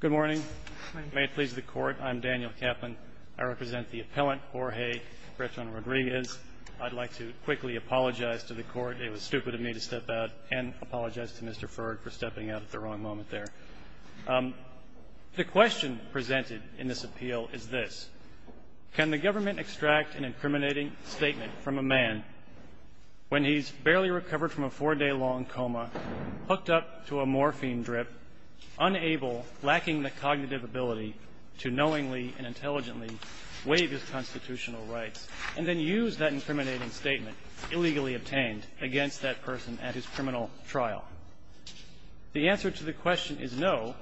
Good morning. May it please the court, I'm Daniel Kaplan. I represent the appellant, Jorge Breton-Rodriguez. I'd like to quickly apologize to the court. It was stupid of me to step out and apologize to Mr. Ferg for stepping out at the wrong moment there. The question presented in this appeal is this. Can the government extract an incriminating statement from a man when he's barely recovered from a four-day-long coma, hooked up to a morphine drip, unable, lacking the cognitive ability to knowingly and intelligently waive his constitutional rights, and then use that incriminating statement, illegally obtained, against that person at his criminal trial? The answer to the question is no,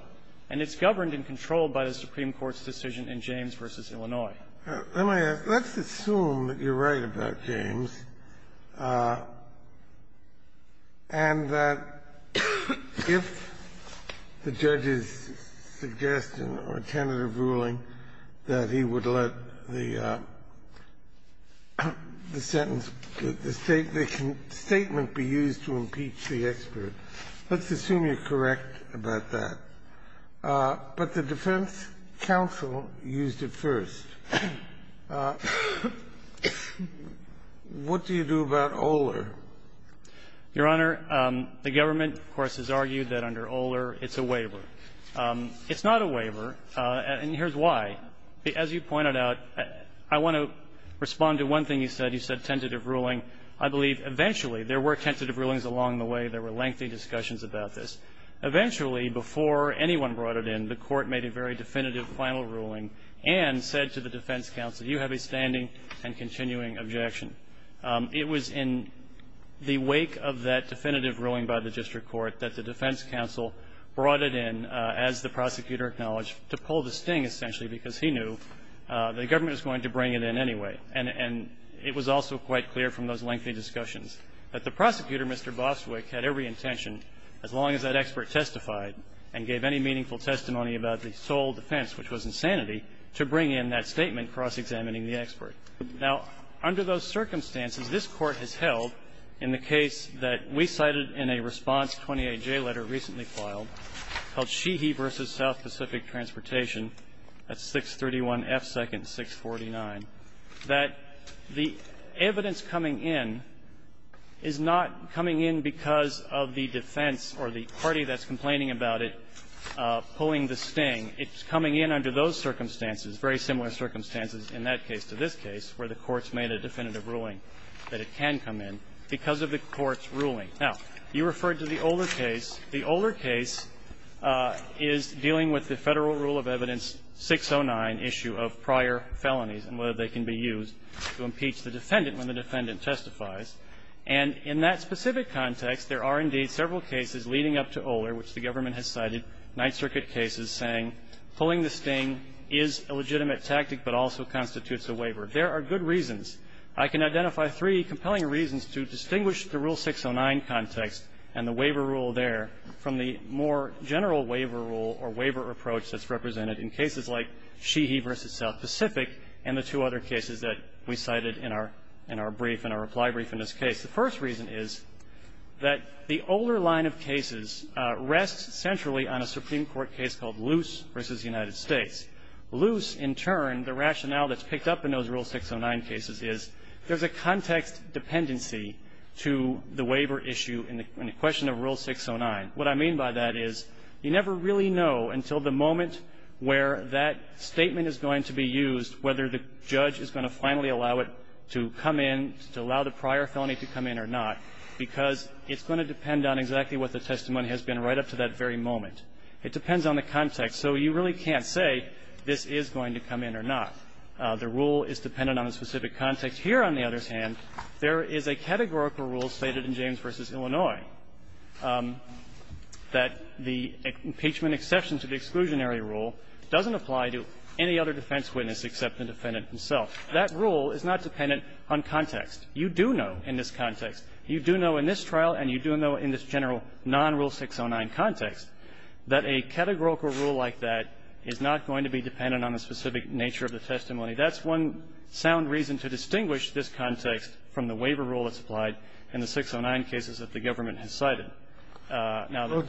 and it's governed and controlled by the Supreme Court's decision in James v. Illinois. Let's assume that you're right about James, and that if the judge is suggesting or tentative ruling that he would let the sentence, the statement be used to impeach the expert. Let's assume you're correct about that. But the defense counsel used it first. What do you do about Oler? Your Honor, the government, of course, has argued that under Oler it's a waiver. It's not a waiver, and here's why. As you pointed out, I want to respond to one thing you said. You said tentative ruling. I believe eventually there were tentative rulings along the way. There were lengthy discussions about this. Eventually, before anyone brought it in, the Court made a very definitive final ruling and said to the defense counsel, you have a standing and continuing objection. It was in the wake of that definitive ruling by the district court that the defense counsel brought it in, as the prosecutor acknowledged, to pull the sting, essentially, because he knew the government was going to bring it in anyway. And it was also quite clear from those lengthy discussions that the prosecutor, Mr. Boswick, had every intention, as long as that expert testified and gave any meaningful testimony about the sole defense, which was insanity, to bring in that statement cross-examining the expert. Now, under those circumstances, this Court has held, in the case that we cited in a response 28J letter recently filed, called Sheehy v. South Pacific Transportation, that's 631 F. 2nd, 649, that the evidence coming in is not coming in because of the defense or the party that's complaining about it pulling the sting. It's coming in under those circumstances, very similar circumstances in that case to this case, where the Court's made a definitive ruling that it can come in because of the Court's ruling. Now, you referred to the older case. The older case is dealing with the Federal Rule of Evidence 609 issue of prior felonies and whether they can be used to impeach the defendant when the defendant testifies. And in that specific context, there are, indeed, several cases leading up to Oler, which the government has cited, Ninth Circuit cases, saying pulling the sting is a legitimate tactic but also constitutes a waiver. There are good reasons. I can identify three compelling reasons to distinguish the Rule 609 context and the waiver rule there from the more general waiver rule or waiver approach that's represented in cases like Sheehy v. South Pacific and the two other cases that we have in our reply brief in this case. The first reason is that the Oler line of cases rests centrally on a Supreme Court case called Luce v. United States. Luce, in turn, the rationale that's picked up in those Rule 609 cases is there's a context dependency to the waiver issue in the question of Rule 609. What I mean by that is you never really know until the moment where that statement is going to be used whether the judge is going to finally allow it to come in, to allow the prior felony to come in or not, because it's going to depend on exactly what the testimony has been right up to that very moment. It depends on the context. So you really can't say this is going to come in or not. The rule is dependent on a specific context. Here, on the other hand, there is a categorical rule stated in James v. Illinois that the impeachment exception to the exclusionary rule doesn't apply to any other defense witness except the defendant himself. That rule is not dependent on context. You do know in this context. You do know in this trial, and you do know in this general non-Rule 609 context, that a categorical rule like that is not going to be dependent on the specific nature of the testimony. That's one sound reason to distinguish this context from the waiver rule that's applied in the 609 cases that the government has cited. Some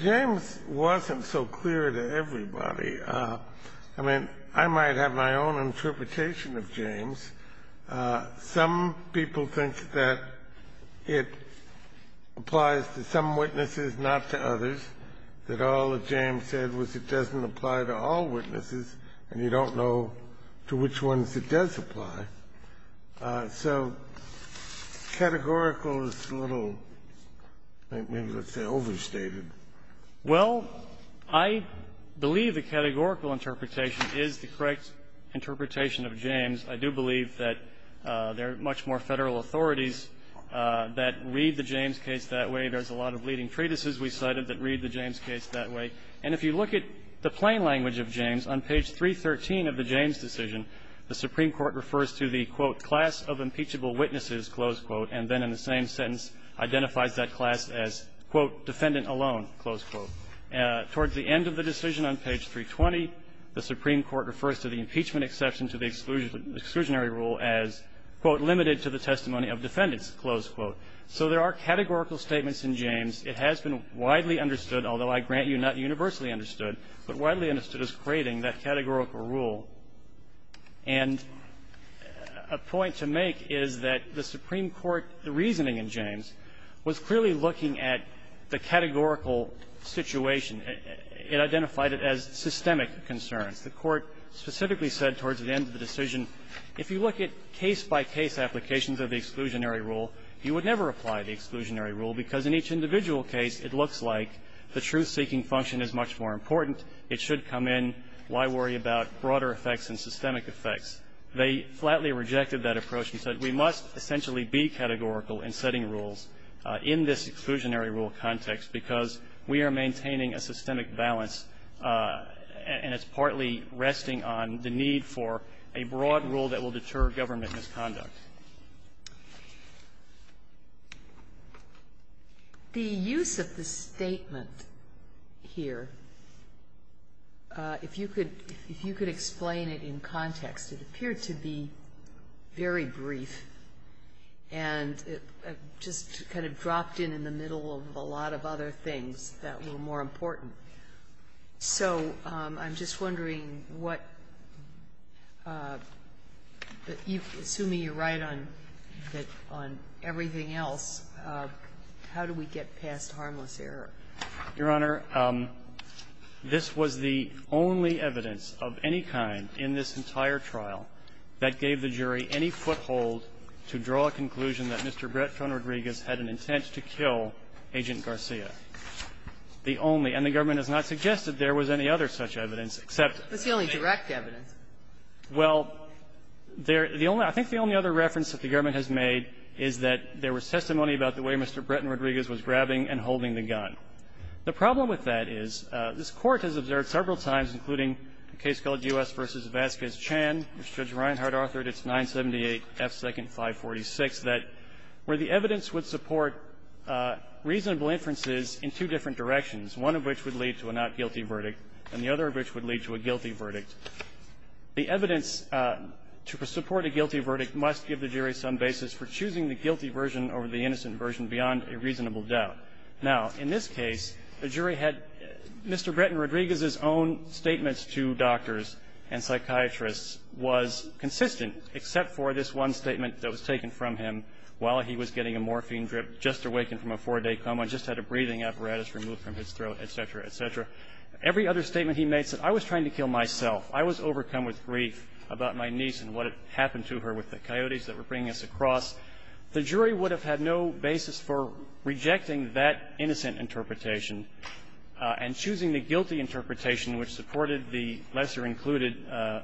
people think that it applies to some witnesses, not to others, that all that James said was it doesn't apply to all witnesses, and you don't know to which ones it does apply. So categorical is a little, maybe, let's say, overstated. Well, I believe the categorical interpretation is the correct interpretation of James. I do believe that there are much more Federal authorities that read the James case that way. There's a lot of leading treatises we cited that read the James case that way. And if you look at the plain language of James, on page 313 of the James decision, the Supreme Court refers to the, quote, class of impeachable witnesses, close quote, and then in the same sentence identifies that class as, quote, defendant alone, close quote. The Supreme Court has given exception to the exclusionary rule as, quote, limited to the testimony of defendants, close quote. So there are categorical statements in James. It has been widely understood, although I grant you not universally understood, but widely understood as creating that categorical rule. And a point to make is that the Supreme Court, the reasoning in James, was clearly looking at the categorical situation. It identified it as systemic concerns. The Court specifically said towards the end of the decision, if you look at case-by-case applications of the exclusionary rule, you would never apply the exclusionary rule because in each individual case it looks like the truth-seeking function is much more important, it should come in, why worry about broader effects and systemic effects. They flatly rejected that approach and said we must essentially be categorical in setting rules in this exclusionary rule context because we are maintaining a systemic balance and it's partly resting on the need for a broad rule that will deter government misconduct. The use of the statement here, if you could explain it in context, it appeared to be very brief and just kind of dropped in in the middle of a lot of other things that were more important. So I'm just wondering what you, assuming you're right on everything else, how do we get past harmless error? Your Honor, this was the only evidence of any kind in this entire trial that gave the jury any foothold to draw a conclusion that Mr. Bretton Rodriguez had an intent to kill Agent Garcia. The only, and the government has not suggested there was any other such evidence except the other. Kagan. It's the only direct evidence. Well, there, the only, I think the only other reference that the government has made is that there was testimony about the way Mr. Bretton Rodriguez was grabbing and holding the gun. The problem with that is this Court has observed several times including a case called U.S. v. Vasquez-Chan, which Judge Reinhard authored. It's 978 F. 2nd 546, that where the evidence would support reasonable inferences in two different directions, one of which would lead to a not-guilty verdict, and the other of which would lead to a guilty verdict, the evidence to support a guilty verdict must give the jury some basis for choosing the guilty version over the innocent version beyond a reasonable doubt. Now, in this case, the jury had Mr. Bretton Rodriguez's own statements to doctors and psychiatrists was consistent except for this one statement that was taken from him while he was getting a morphine drip, just awakened from a four-day coma, just had a breathing apparatus removed from his throat, et cetera, et cetera. Every other statement he made said, I was trying to kill myself, I was overcome with grief about my niece and what had happened to her with the coyotes that were bringing us across. The jury would have had no basis for rejecting that innocent interpretation and choosing the guilty interpretation which supported the lesser-included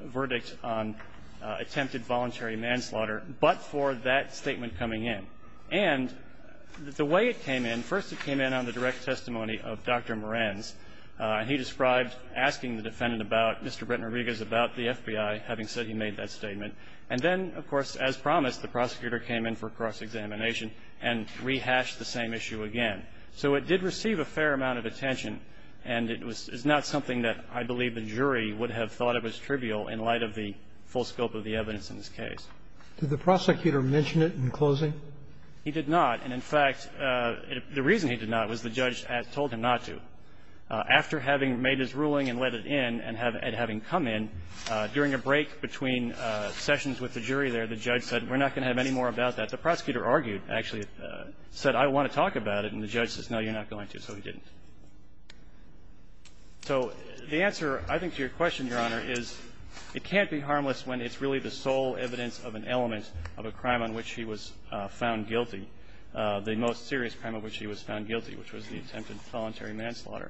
verdict on attempted voluntary manslaughter but for that statement coming in. And the way it came in, first it came in on the direct testimony of Dr. Moran's. He described asking the defendant about Mr. Bretton Rodriguez about the FBI, having said he made that statement. And then, of course, as promised, the prosecutor came in for cross-examination and rehashed the same issue again. So it did receive a fair amount of attention, and it was not something that I believe the jury would have thought it was trivial in light of the full scope of the evidence in this case. Did the prosecutor mention it in closing? He did not, and in fact, the reason he did not was the judge had told him not to. After having made his ruling and let it in and having come in, during a break between sessions with the jury there, the judge said, we're not going to have any more about that. The prosecutor argued, actually, said, I want to talk about it, and the judge says, no, you're not going to, so he didn't. So the answer, I think, to your question, Your Honor, is it can't be harmless when it's really the sole evidence of an element of a crime on which he was found guilty, the most serious crime on which he was found guilty, which was the attempted voluntary manslaughter.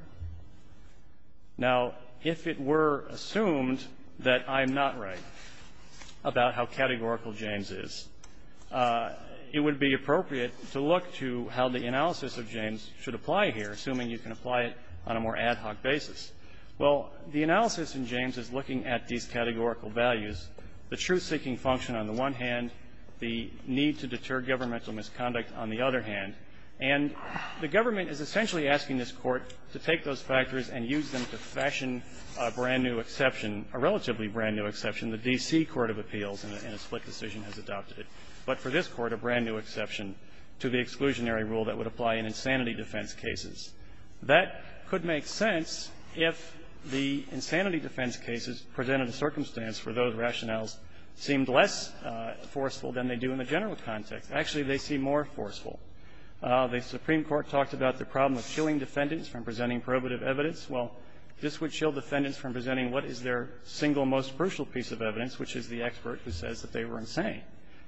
Now, if it were assumed that I'm not right about how categorical James is, it would be appropriate to look to how the analysis of James should apply here, assuming you can apply it on a more ad hoc basis. Well, the analysis in James is looking at these categorical values, the truth-seeking function on the one hand, the need to deter governmental misconduct on the other hand, and the government is essentially asking this Court to take those factors and use them to fashion a brand-new exception, a relatively brand-new exception the D.C. Court of Appeals in a split decision has adopted, but for this Court, a brand-new exception to the exclusionary rule that would apply in insanity defense cases. That could make sense if the insanity defense cases presented a circumstance where those rationales seemed less forceful than they do in the general context. Actually, they seem more forceful. The Supreme Court talked about the problem of chilling defendants from presenting probative evidence. Well, this would chill defendants from presenting what is their single most crucial piece of evidence, which is the expert who says that they were insane.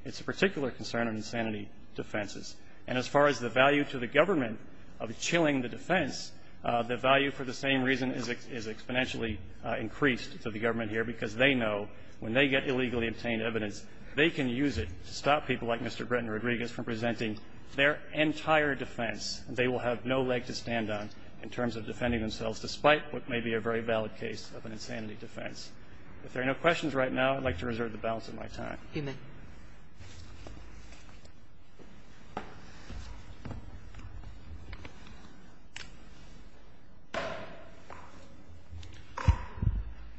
It's a particular concern in insanity defenses. And as far as the value to the government of chilling the defense, the value for the defense is exponentially increased to the government here because they know when they get illegally obtained evidence, they can use it to stop people like Mr. Bretton Rodriguez from presenting their entire defense. They will have no leg to stand on in terms of defending themselves, despite what may be a very valid case of an insanity defense. If there are no questions right now, I'd like to reserve the balance of my time. Kagan.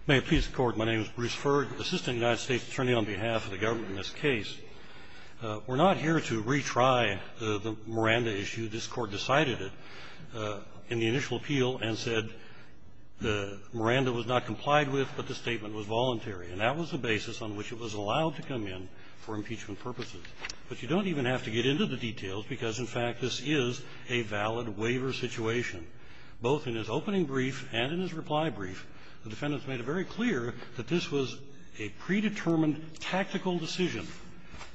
May it please the Court. My name is Bruce Ferg, Assistant United States Attorney on behalf of the government in this case. We're not here to retry the Miranda issue. This Court decided it in the initial appeal and said the Miranda was not complied with, but the statement was voluntary. And that was the basis on which it was allowed to come in for impeachment purposes. But you don't even have to get into the details, because, in fact, this is a valid waiver situation. Both in his opening brief and in his reply brief, the defendants made it very clear that this was a predetermined tactical decision.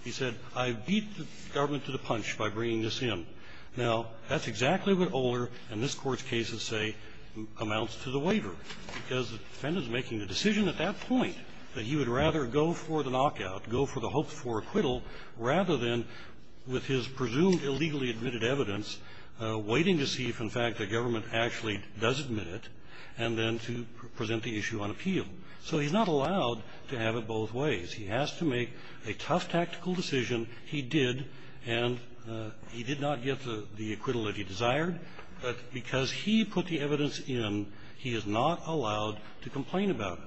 He said, I beat the government to the punch by bringing this in. Now, that's exactly what Oler and this Court's cases say amounts to the waiver, because the defendant is making the decision at that point that he would rather go for the knockout, go for the hoped-for acquittal, rather than, with his presumed illegally admitted evidence, waiting to see if, in fact, the government actually does admit it, and then to present the issue on appeal. So he's not allowed to have it both ways. He has to make a tough tactical decision. He did, and he did not get the acquittal that he desired. But because he put the evidence in, he is not allowed to complain about it.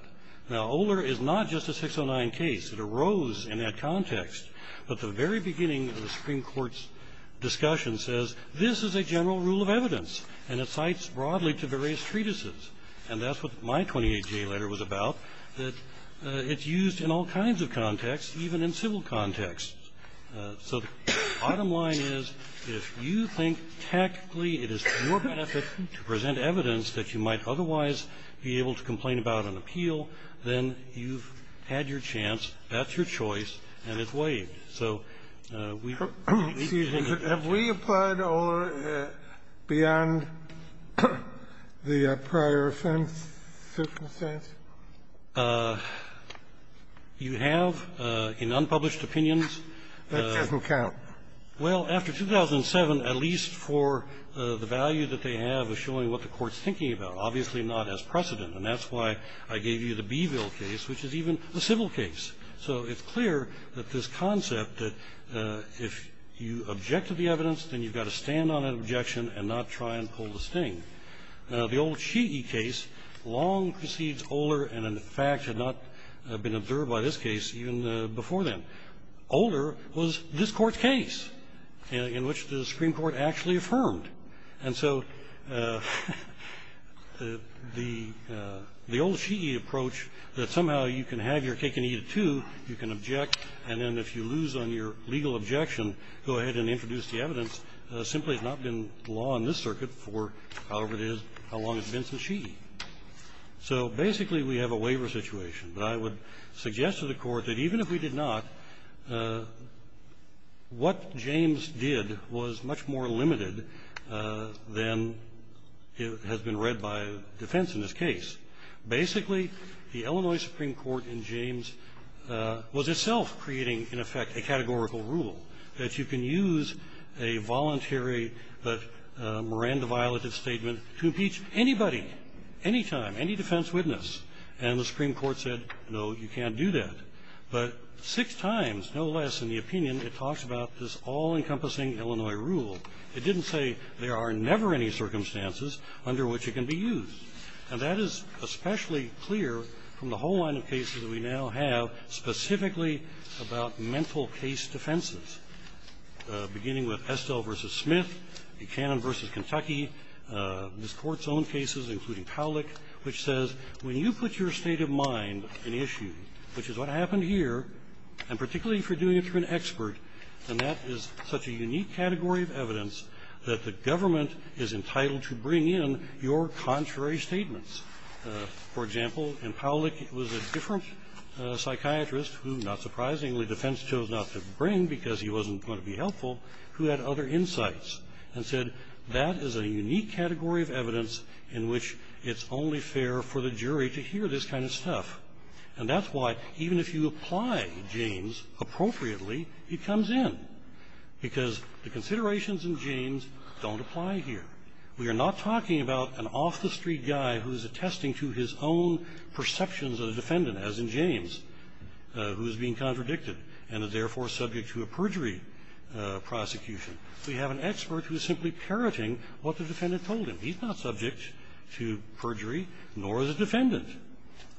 Now, Oler is not just a 609 case. It arose in that context. But the very beginning of the Supreme Court's discussion says, this is a general rule of evidence, and it cites broadly to various treatises. And that's what my 28-J letter was about, that it's used in all kinds of contexts, even in civil contexts. So the bottom line is, if you think tactically it is to your benefit to present evidence that you might otherwise be able to complain about on appeal, then you've had your chance, that's your choice, and it's waived. So we think that the need to be able to complain about it is not a problem. Kennedy. Have we applied Oler beyond the prior offense circumstance? You have, in unpublished opinions. That doesn't count. Well, after 2007, at least for the value that they have of showing what the Court's thinking about, obviously not as precedent. And that's why I gave you the Beeville case, which is even a civil case. So it's clear that this concept that if you object to the evidence, then you've got to stand on that objection and not try and pull the sting. The old Sheehy case long precedes Oler and, in fact, had not been observed by this case even before then. Oler was this Court's case in which the Supreme Court actually affirmed. And so the old Sheehy approach that somehow you can have your cake and eat it, too, you can object, and then if you lose on your legal objection, go ahead and introduce the evidence, simply has not been law in this circuit for however it is, how long it's been since Sheehy. So basically, we have a waiver situation. But I would suggest to the Court that even if we did not, what James did was much more limited than has been read by defense in this case. Basically, the Illinois Supreme Court in James was itself creating, in effect, a categorical rule that you can use a voluntary but Miranda-violated statement to impeach anybody, anytime, any defense witness. And the Supreme Court said, no, you can't do that. But six times, no less, in the opinion, it talks about this all-encompassing Illinois rule. It didn't say there are never any circumstances under which it can be used. And that is especially clear from the whole line of cases that we now have, specifically about mental case defenses, beginning with Estell v. Smith, Buchanan v. Kentucky, this Court's own cases, including Pawlik, which says, when you put your state of mind in issue, which is what happened here, and particularly if you're doing it through an expert, and that is such a unique category of evidence that the government is entitled to bring in your contrary statements. For example, in Pawlik, it was a different psychiatrist who, not surprisingly, defense chose not to bring because he wasn't going to be helpful, who had other insights, and said, that is a unique category of evidence in which it's only fair for the jury to hear this kind of stuff. And that's why, even if you apply James appropriately, he comes in, because the considerations in James don't apply here. We are not talking about an off-the-street guy who is attesting to his own perceptions of the defendant, as in James, who is being contradicted, and is therefore subject to a perjury prosecution. We have an expert who is simply parroting what the defendant told him. He's not subject to perjury, nor is the defendant.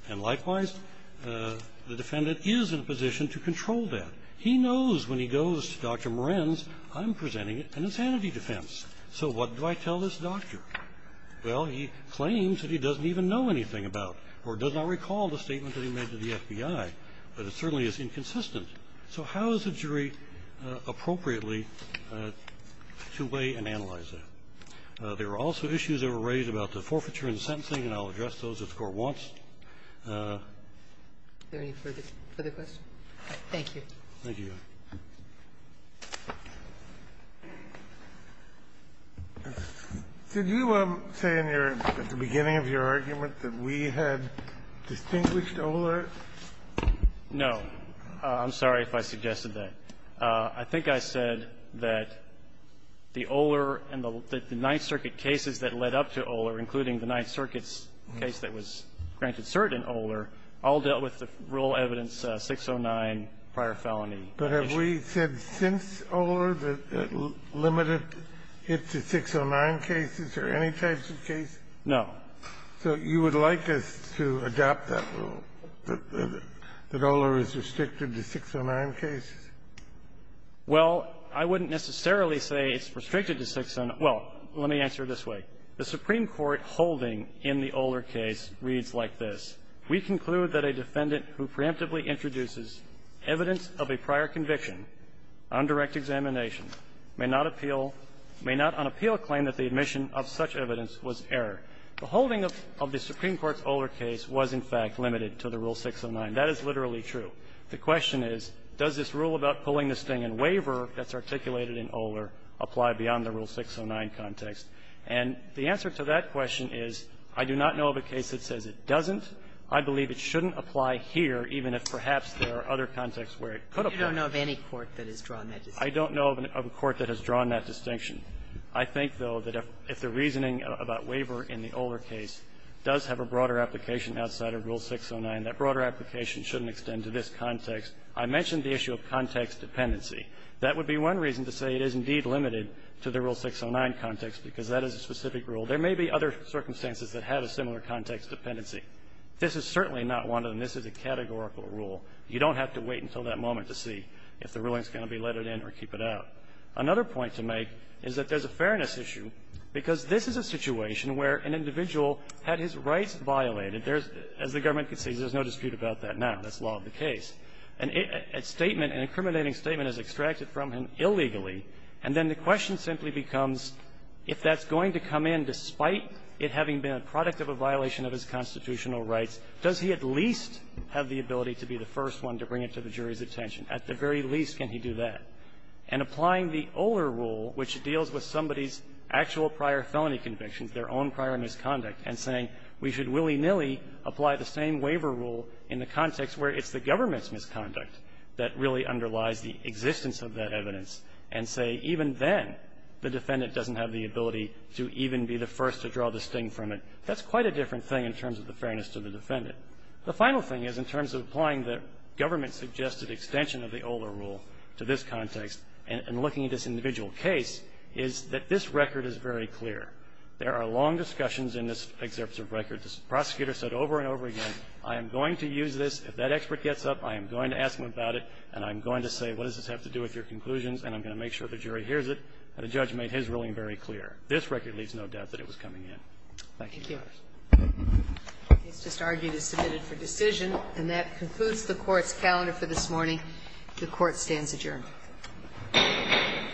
And likewise, the defendant is in a position to control that. He knows when he goes to Dr. Moran's, I'm presenting an insanity defense. So what do I tell this doctor? Well, he claims that he doesn't even know anything about, or does not recall the statement that he made to the FBI, but it certainly is inconsistent. So how is a jury appropriately to weigh and analyze that? There were also issues that were raised about the forfeiture and sentencing, and I'll address those if the Court wants. Ginsburg. Are there any further questions? Thank you. Thank you, Your Honor. Did you say in your at the beginning of your argument that we had distinguished Oler? No. I'm sorry if I suggested that. I think I said that the Oler and the Ninth Circuit cases that led up to Oler, including the Ninth Circuit's case that was granted cert in Oler, all dealt with the rule evidence 609 prior felony. But have we said since Oler that it limited it to 609 cases or any types of cases? No. So you would like us to adopt that rule, that Oler is restricted to 609 cases? Well, I wouldn't necessarily say it's restricted to 609. Well, let me answer it this way. The Supreme Court holding in the Oler case reads like this. We conclude that a defendant who preemptively introduces evidence of a prior conviction on direct examination may not appeal – may not on appeal claim that the admission of such evidence was error. The holding of the Supreme Court's Oler case was, in fact, limited to the rule 609. That is literally true. The question is, does this rule about pulling the sting in waiver that's articulated in Oler apply beyond the rule 609 context? And the answer to that question is I do not know of a case that says it doesn't. I believe it shouldn't apply here, even if perhaps there are other contexts where it could apply. But you don't know of any court that has drawn that distinction? I don't know of a court that has drawn that distinction. I think, though, that if the reasoning about waiver in the Oler case does have a broader application outside of rule 609, that broader application shouldn't extend to this context. I mentioned the issue of context dependency. That would be one reason to say it is indeed limited to the rule 609 context, because that is a specific rule. There may be other circumstances that have a similar context dependency. This is certainly not one of them. This is a categorical rule. You don't have to wait until that moment to see if the ruling is going to be let in or keep it out. Another point to make is that there's a fairness issue, because this is a situation where an individual had his rights violated. There's – as the government concedes, there's no dispute about that now. That's law of the case. A statement, an incriminating statement is extracted from him illegally, and then the question simply becomes, if that's going to come in despite it having been a product of a violation of his constitutional rights, does he at least have the ability to be the first one to bring it to the jury's attention? At the very least, can he do that? And applying the Oler rule, which deals with somebody's actual prior felony convictions, their own prior misconduct, and saying we should willy-nilly apply the same waiver rule in the context where it's the government's misconduct that really underlies the existence of that evidence, and say even then, the defendant doesn't have the ability to even be the first to draw the sting from it, that's quite a different thing in terms of the fairness to the defendant. The final thing is, in terms of applying the government-suggested extension of the Oler rule to this context, and looking at this individual case, is that this record is very clear. There are long discussions in this excerpt of record. The prosecutor said over and over again, I am going to use this. If that expert gets up, I am going to ask him about it, and I'm going to say, what does this have to do with your conclusions, and I'm going to make sure the jury hears it. And the judge made his ruling very clear. This record leaves no doubt that it was coming in. Thank you. Thank you. The case just argued is submitted for decision. And that concludes the Court's calendar for this morning. The Court stands adjourned.